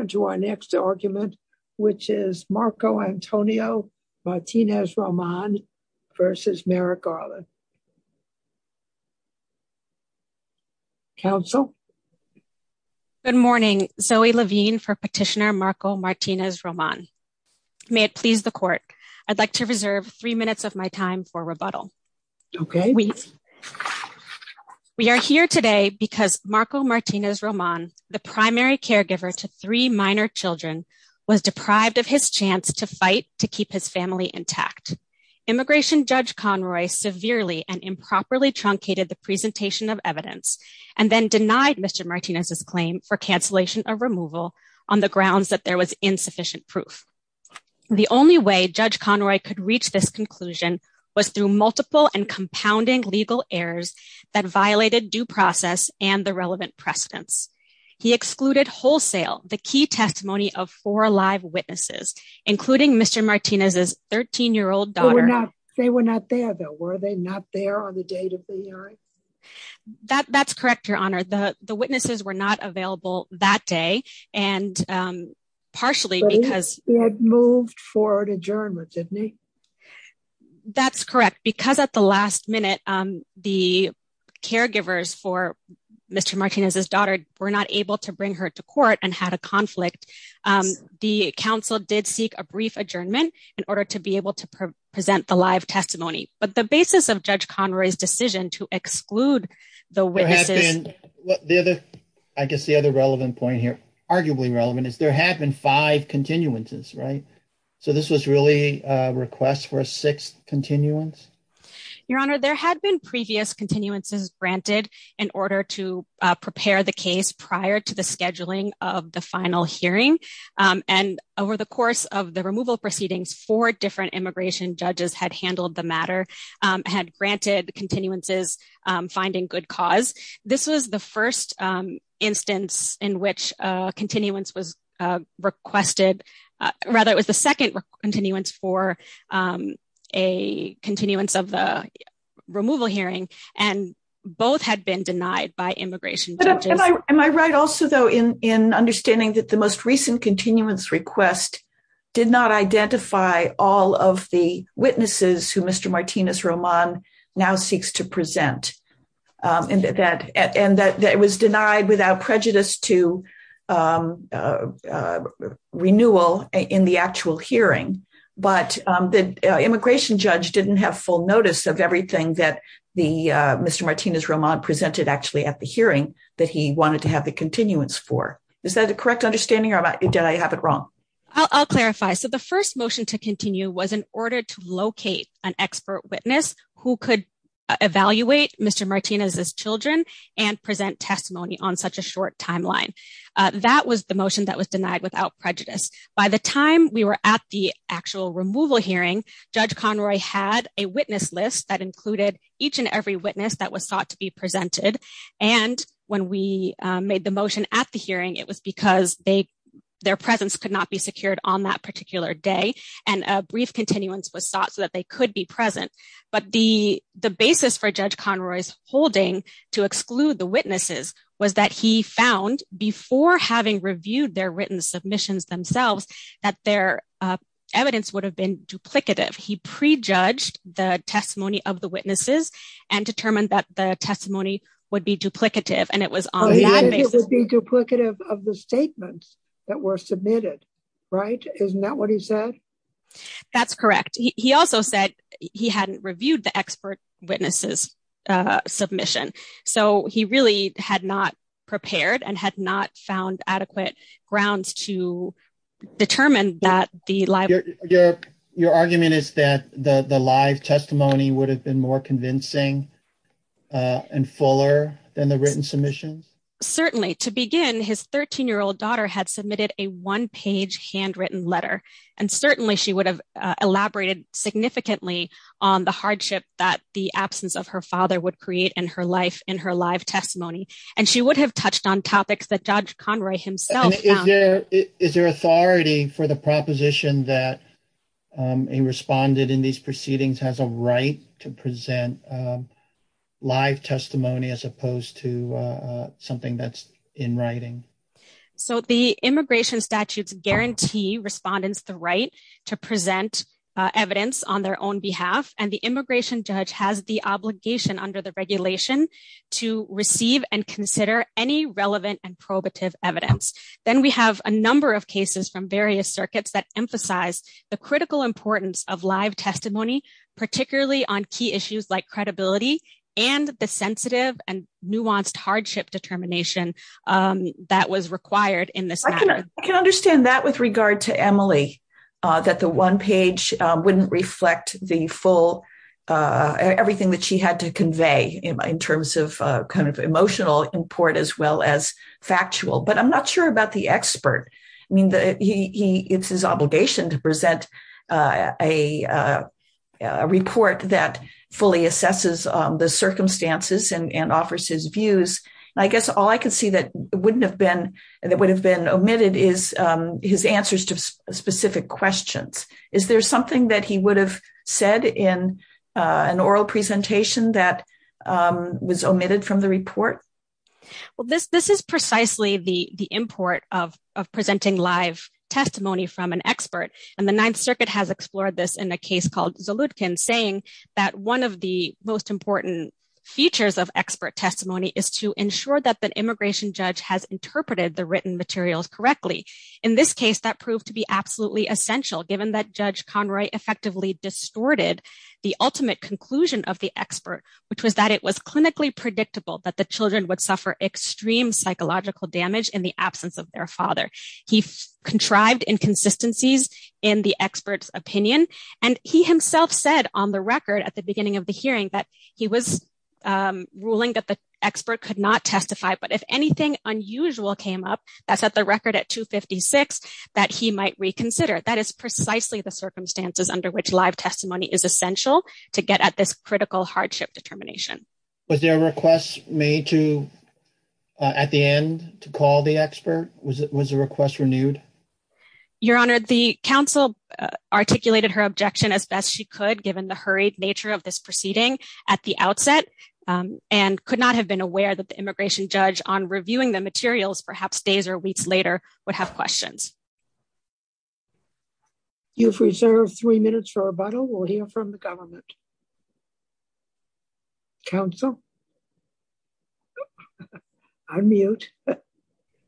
to our next argument, which is Marco Antonio Martinez Roman versus Merrick Garland. Counsel? Good morning, Zoe Levine for Petitioner Marco Martinez Roman. May it please the court, I'd like to reserve three minutes of my time for rebuttal. Okay. We are here today because Marco Martinez Roman, the primary caregiver to three minor children, was deprived of his chance to fight to keep his family intact. Immigration Judge Conroy severely and improperly truncated the presentation of evidence and then denied Mr. Martinez's claim for cancellation of removal on the grounds that there was insufficient proof. The only way Judge Conroy could reach this conclusion was through multiple and compounding legal errors that violated due process and the relevant precedents. He excluded wholesale the key testimony of four live witnesses, including Mr. Martinez's 13-year-old daughter. They were not there though, were they not there on the date of the hearing? That's correct, Your Honor. The witnesses were not available that day and partially because... They had moved for an adjournment, didn't they? That's correct, because at the minute, the caregivers for Mr. Martinez's daughter were not able to bring her to court and had a conflict. The council did seek a brief adjournment in order to be able to present the live testimony, but the basis of Judge Conroy's decision to exclude the witnesses... I guess the other relevant point here, arguably relevant, is there have been five continuances, right? So this was really a sixth continuance? Your Honor, there had been previous continuances granted in order to prepare the case prior to the scheduling of the final hearing, and over the course of the removal proceedings, four different immigration judges had handled the matter, had granted continuances, finding good cause. This was the first instance in which a continuance was requested... It was the second continuance for a continuance of the removal hearing, and both had been denied by immigration judges. Am I right also, though, in understanding that the most recent continuance request did not identify all of the witnesses who Mr. Martinez-Roman now seeks to present, and that it was denied without prejudice to renewal in the actual hearing, but the immigration judge didn't have full notice of everything that Mr. Martinez-Roman presented actually at the hearing that he wanted to have the continuance for? Is that a correct understanding, or did I have it wrong? I'll clarify. So the first motion to continue was in order to locate an expert witness who could evaluate Mr. Martinez's children and present testimony on such a short timeline. That was the motion that was denied without prejudice. By the time we were at the actual removal hearing, Judge Conroy had a witness list that included each and every witness that was sought to be presented, and when we made the motion at the hearing, it was because their presence could not be secured on that particular day, and a brief continuance was to be made to ensure that they could be present. But the basis for Judge Conroy's holding to exclude the witnesses was that he found, before having reviewed their written submissions themselves, that their evidence would have been duplicative. He prejudged the testimony of the witnesses and determined that the testimony would be duplicative, and it was on that basis. It would be duplicative of the statements that were submitted, right? Isn't that what he said? That's correct. He also said he hadn't reviewed the expert witnesses' submission, so he really had not prepared and had not found adequate grounds to determine that the live... Your argument is that the live testimony would have been more convincing and fuller than the written submissions? Certainly. To begin, his 13-year-old daughter had submitted a one-page handwritten letter, and certainly she would have elaborated significantly on the hardship that the absence of her father would create in her life in her live testimony, and she would have touched on topics that Judge Conroy himself... Is there authority for the live testimony as opposed to something that's in writing? So the immigration statutes guarantee respondents the right to present evidence on their own behalf, and the immigration judge has the obligation under the regulation to receive and consider any relevant and probative evidence. Then we have a number of cases from various circuits that emphasize the critical importance of live testimony, particularly on key issues like credibility and the sensitive and nuanced hardship determination that was required in this matter. I can understand that with regard to Emily, that the one page wouldn't reflect the full... Everything that she had to convey in terms of kind of emotional import as well as factual, but I'm not sure about the expert. I mean, it's his obligation to present a report that fully assesses the circumstances and offers his views. I guess all I can see that wouldn't have been... That would have been omitted is his answers to specific questions. Is there something that he would have said in an oral presentation that was omitted from the report? Well, this is precisely the import of live testimony from an expert. And the Ninth Circuit has explored this in a case called Zaludkin saying that one of the most important features of expert testimony is to ensure that the immigration judge has interpreted the written materials correctly. In this case, that proved to be absolutely essential given that Judge Conroy effectively distorted the ultimate conclusion of the expert, which was that it was clinically predictable that the children would suffer extreme psychological damage in the absence of their father. He contrived inconsistencies in the expert's opinion. And he himself said on the record at the beginning of the hearing that he was ruling that the expert could not testify, but if anything unusual came up, that's at the record at 256, that he might reconsider. That is precisely the circumstances under which live testimony is essential to get at this critical hardship determination. Was there a request made at the end to call the expert? Was the request renewed? Your Honor, the counsel articulated her objection as best she could given the hurried nature of this proceeding at the outset and could not have been aware that the immigration judge on reviewing the materials perhaps days or weeks later would have questions. You've reserved three minutes for rebuttal. We'll hear from the government. Counsel? I'm mute.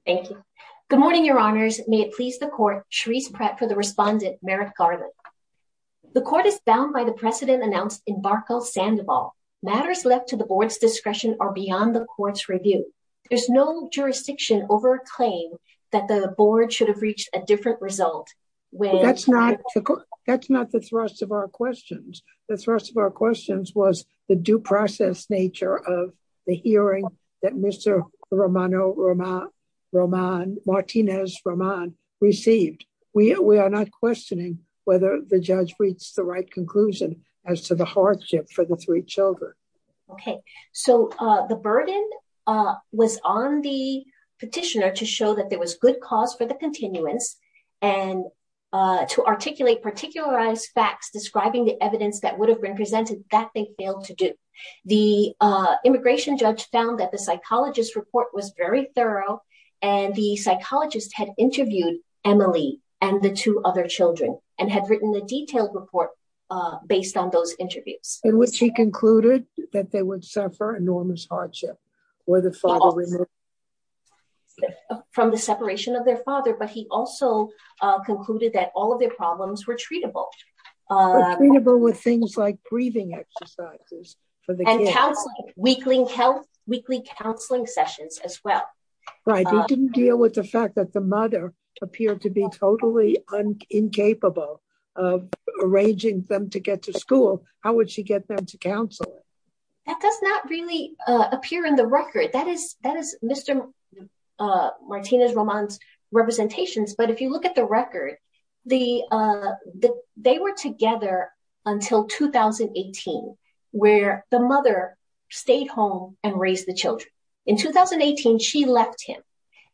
Thank you. Good morning, Your Honors. May it please the court, Charisse Pratt for the respondent, Merrick Garland. The court is bound by the precedent announced in Barkle-Sandoval. Matters left to the board's discretion are beyond the court's review. There's no jurisdiction over a claim that the board should have reached a different result. That's not the thrust of our questions. The thrust of our questions was the due process nature of the hearing that Mr. Romano Martinez-Román received. We are not questioning whether the judge reached the right conclusion as to the hardship for the three children. Okay, so the burden was on the petitioner to show that there was good cause for the continuance and to articulate particularized facts describing the evidence that would have been presented that they failed to do. The immigration judge found that the psychologist's report was very thorough and the psychologist had interviewed Emily and the two other children and had written a detailed report based on those interviews. In which he concluded that they would suffer enormous hardship. From the separation of their father, but he also concluded that all of their problems were treatable. Treatable with things like breathing exercises. And counseling, weekly counseling sessions as well. Right, he didn't deal with the fact that the mother appeared to be totally incapable of arranging them to get to school. How would she get them to counsel? That does not really appear in the record. That is Mr. Martinez-Román's representations. But if you look at the record, they were together until 2018 where the mother stayed home and raised the children. In 2018 she left him.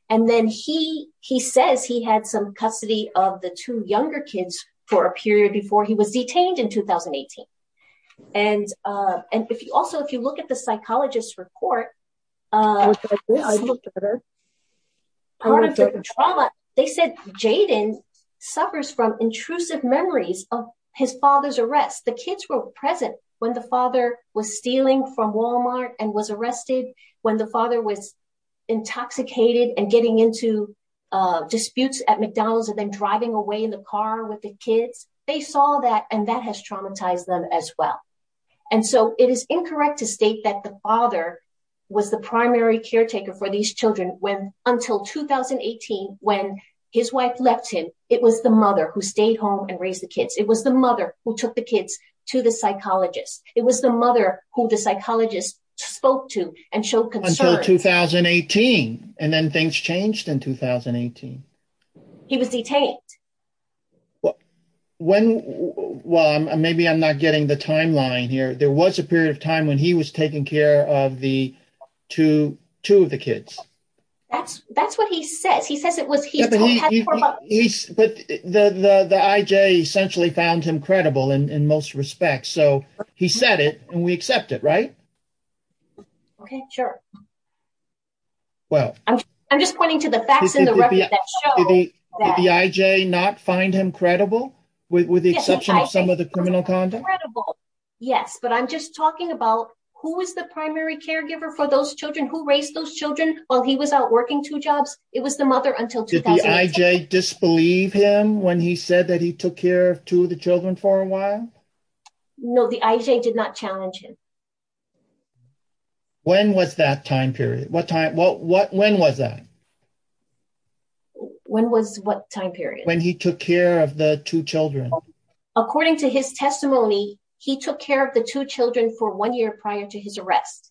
And then he says he had some custody of the two younger kids for a period before he was detained in 2018. And if you also, if you look at the psychologist's report, part of the trauma, they said Jaden suffers from intrusive memories of his father's arrest. The kids were present when the father was stealing from Walmart and was arrested. When the father was intoxicated and getting into disputes at McDonald's and then driving away in the car with the kids. They saw that and that has traumatized them as well. And so it is incorrect to state that the father was the primary caretaker for these children until 2018 when his wife left him. It was the mother who stayed home and raised the kids. It was the mother who took the kids to the psychologist. It was the mother who the psychologist spoke to and showed concern. Until 2018. And then things changed in 2018. He was detained. Well, maybe I'm not getting the timeline here. There was a period of time when he was taking care of the two of the kids. That's what he says. He says it was... But the IJ essentially found him credible in most respects. So he said it and we accept it, right? Okay, sure. Well, I'm just pointing to the facts in the record that show... Did the IJ not find him credible with the exception of some of the criminal conduct? Yes, but I'm just talking about who was the primary caregiver for those children, who raised those children while he was out working two jobs. It was the mother until... Did the IJ disbelieve him when he said that he took care of two of the children for a while? No, the IJ did not challenge him. When was that time period? When was that? When was what time period? When he took care of the two children. According to his testimony, he took care of the two children for one year prior to his arrest.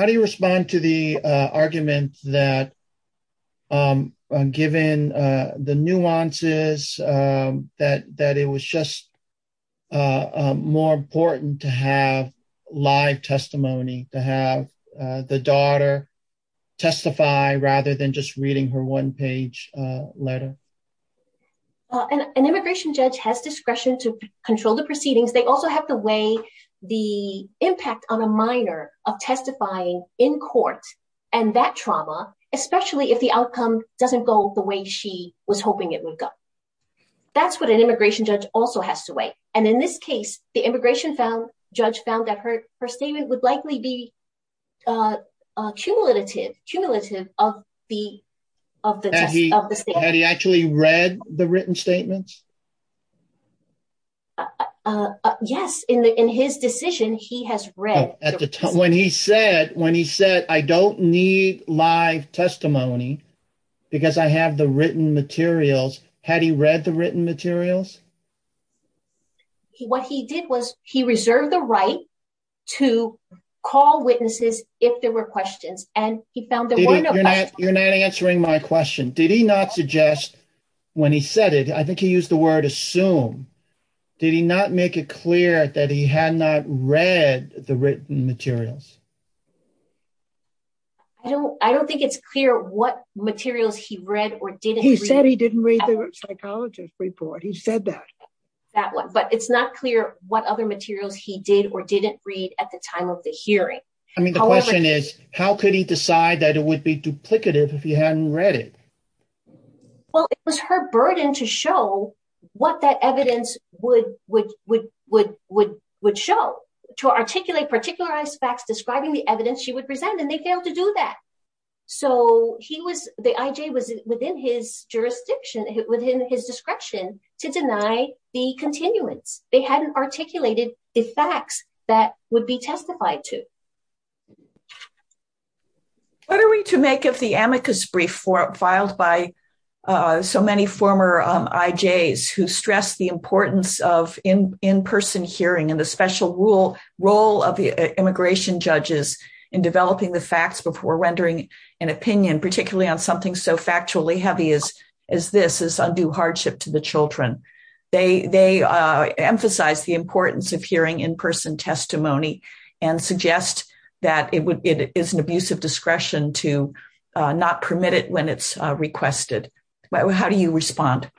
How do you respond to the argument that given the nuances that it was just more important to have live testimony, to have the daughter testify rather than just reading her one-page letter? Well, an immigration judge has discretion to control the proceedings. They also have to weigh the impact on a minor of testifying in court and that trauma, especially if the outcome doesn't go the way she was hoping it would go. That's what an immigration judge also has to weigh. And in this case, the immigration judge found that her statement would likely be cumulative of the Had he actually read the written statements? Yes, in his decision, he has read. At the time when he said, I don't need live testimony because I have the written materials. Had he read the written materials? What he did was he reserved the right to call witnesses if there were questions and he found there were no questions. You're not answering my question. Did he not suggest when he said it, I think he used the word assume. Did he not make it clear that he had not read the written materials? I don't think it's clear what materials he read or didn't read. He said he didn't read the psychologist report. He said that. That one, but it's not clear what other materials he did or didn't read at the time of the hearing. I mean, the question is, how could he decide that it would be duplicative if he hadn't read it? Well, it was her burden to show what that evidence would, would, would, would, would, would show to articulate particular aspects describing the evidence she would present, and they failed to do that. So he was the IJ was within his jurisdiction within his discretion to deny the continuance. They hadn't articulated the facts that would be testified to. What are we to make of the amicus brief filed by so many former IJs who stress the importance of in-person hearing and the special rule, role of the immigration judges in developing the facts before rendering an opinion, particularly on something so factually heavy as, they emphasize the importance of hearing in-person testimony and suggest that it would, it is an abuse of discretion to not permit it when it's requested. How do you respond?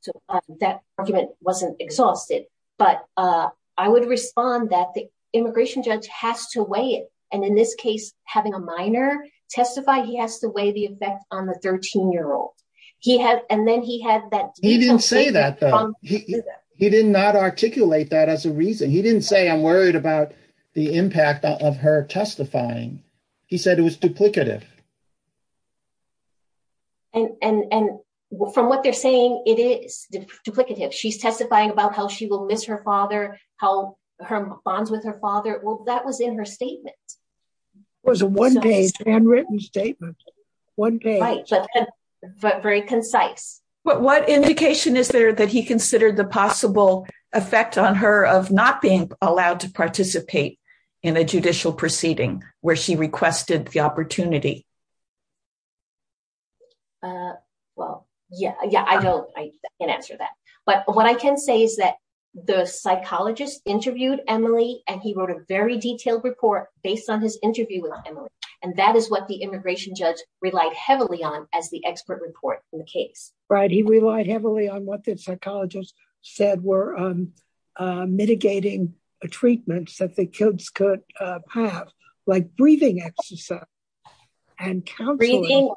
So that argument wasn't exhausted, but I would respond that the immigration judge has to weigh it. And in this case, having a minor testify, he has to weigh the effect on the 13 year old. He had, and then he had that. He didn't say that though. He did not articulate that as a reason. He didn't say, I'm worried about the impact of her testifying. He said it was duplicative. And, and, and from what they're saying, it is duplicative. She's testifying about how she will miss her father, how her bonds with her father. Well, that was in her statement. Was a one page handwritten statement. One page, but very concise. But what indication is there that he considered the possible effect on her of not being allowed to participate in a judicial proceeding where she requested the opportunity? Well, yeah, yeah, I don't, I can't answer that. But what I can say is that the psychologist interviewed Emily and he wrote a very detailed report based on his interview with Emily. And that is what the immigration judge relied heavily on as the expert report in the case. Right. He relied heavily on what the psychologist said were mitigating treatments that the kids could have, like breathing exercise and counseling. Breathing,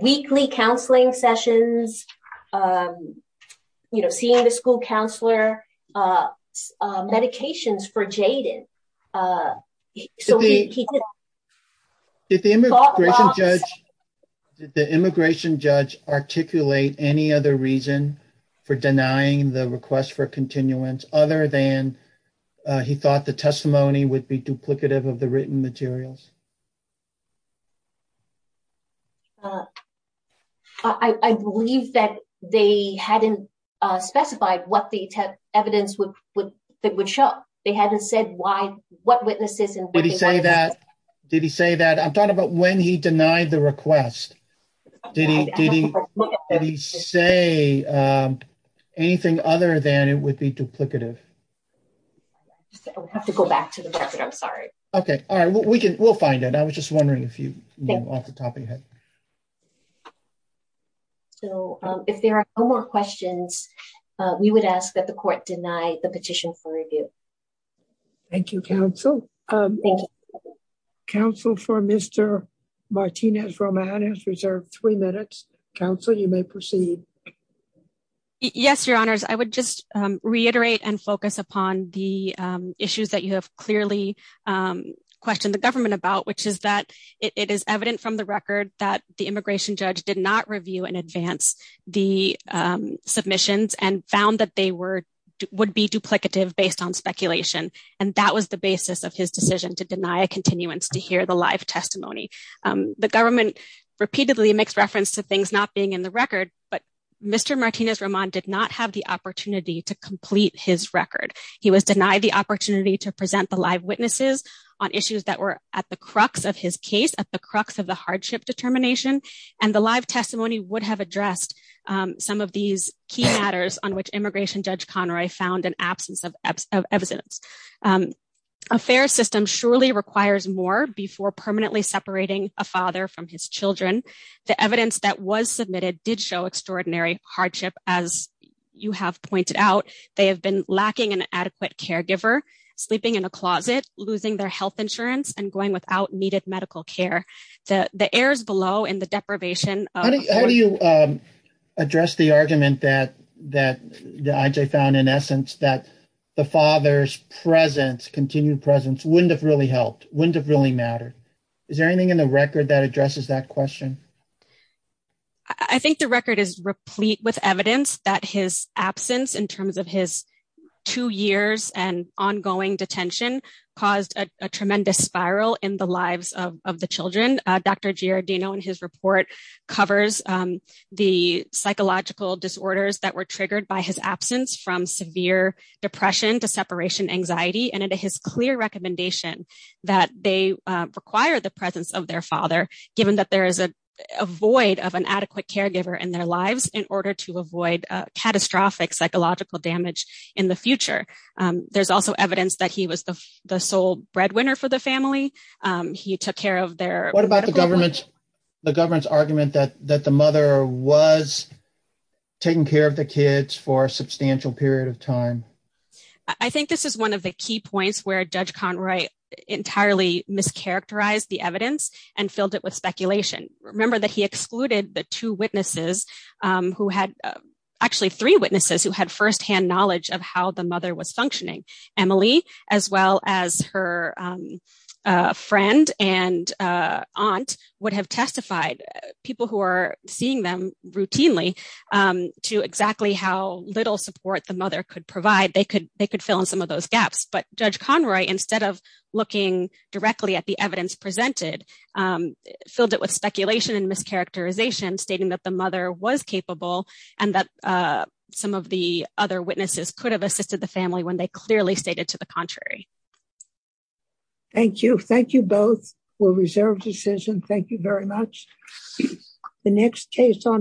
weekly counseling sessions, you know, seeing the school counselor, uh, uh, medications for Jaden. Uh, so he, he did. Did the immigration judge, did the immigration judge articulate any other reason for denying the request for continuance other than he thought the testimony would be duplicative of the written materials? Uh, I, I believe that they hadn't, uh, specified what the evidence would, would, that would show. They hadn't said why, what witnesses. Did he say that? I'm talking about when he denied the request. Did he, did he say, um, anything other than it would be duplicative? I would have to go back to the record. I'm sorry. Okay. All right. We can, we'll find it. I was just wondering if you know off the top of your head. So, um, if there are no more questions, uh, we would ask that the court deny the petition for review. Thank you. Council, um, council for Mr. Martinez Roman has reserved three minutes. Council, you may proceed. Yes, your honors. I would just, um, reiterate and focus upon the, um, issues that you have clearly, um, questioned the government about, which is that it is evident from the record that the immigration judge did not review in advance the, um, submissions and found that they were, would be duplicative based on speculation. And that was the basis of his decision to deny a continuance to hear the live testimony. Um, the government repeatedly makes reference to things not being in the record, but Mr. Martinez Roman did not have the opportunity to complete his record. He was denied the opportunity to present the live witnesses on issues that were at the crux of his case at the crux of the hardship determination. And the live testimony would have addressed, um, some of these key matters on which immigration judge Conroy found an absence of evidence. Um, a fair system surely requires more before permanently separating a father from his children. The evidence that was submitted did show extraordinary hardship. As you have pointed out, they have been lacking an adequate caregiver, sleeping in a closet, losing their health insurance, and going without needed medical care. The, the air is below in the deprivation. How do you, um, address the argument that, that the IJ found in essence that the father's presence, continued presence wouldn't have really helped, wouldn't have really mattered? Is there anything in the record that addresses that question? I think the record is replete with evidence that his absence in terms of his two years and ongoing detention caused a tremendous spiral in the lives of the children. Dr. Giardino in his report covers, um, the psychological disorders that were triggered by his absence from severe depression to separation anxiety. And it is his clear recommendation that they require the presence of their father, given that there is a void of an adequate in their lives in order to avoid a catastrophic psychological damage in the future. Um, there's also evidence that he was the sole breadwinner for the family. Um, he took care of their, what about the government? The government's argument that, that the mother was taking care of the kids for a substantial period of time. I think this is one of the key points where judge Conroy entirely mischaracterized the evidence and filled it with speculation. Remember that he excluded the two witnesses, um, who had actually three witnesses who had firsthand knowledge of how the mother was functioning. Emily, as well as her, um, uh, friend and, uh, aunt would have testified people who are seeing them routinely, um, to exactly how little support the mother could provide. They could, they could fill in some of those gaps, but judge Conroy, instead of looking directly at the evidence presented, um, filled it with speculation and mischaracterization stating that the mother was capable and that, uh, some of the other witnesses could have assisted the family when they clearly stated to the contrary. Thank you. Thank you both. We'll reserve decision. Thank you very much. The next case on our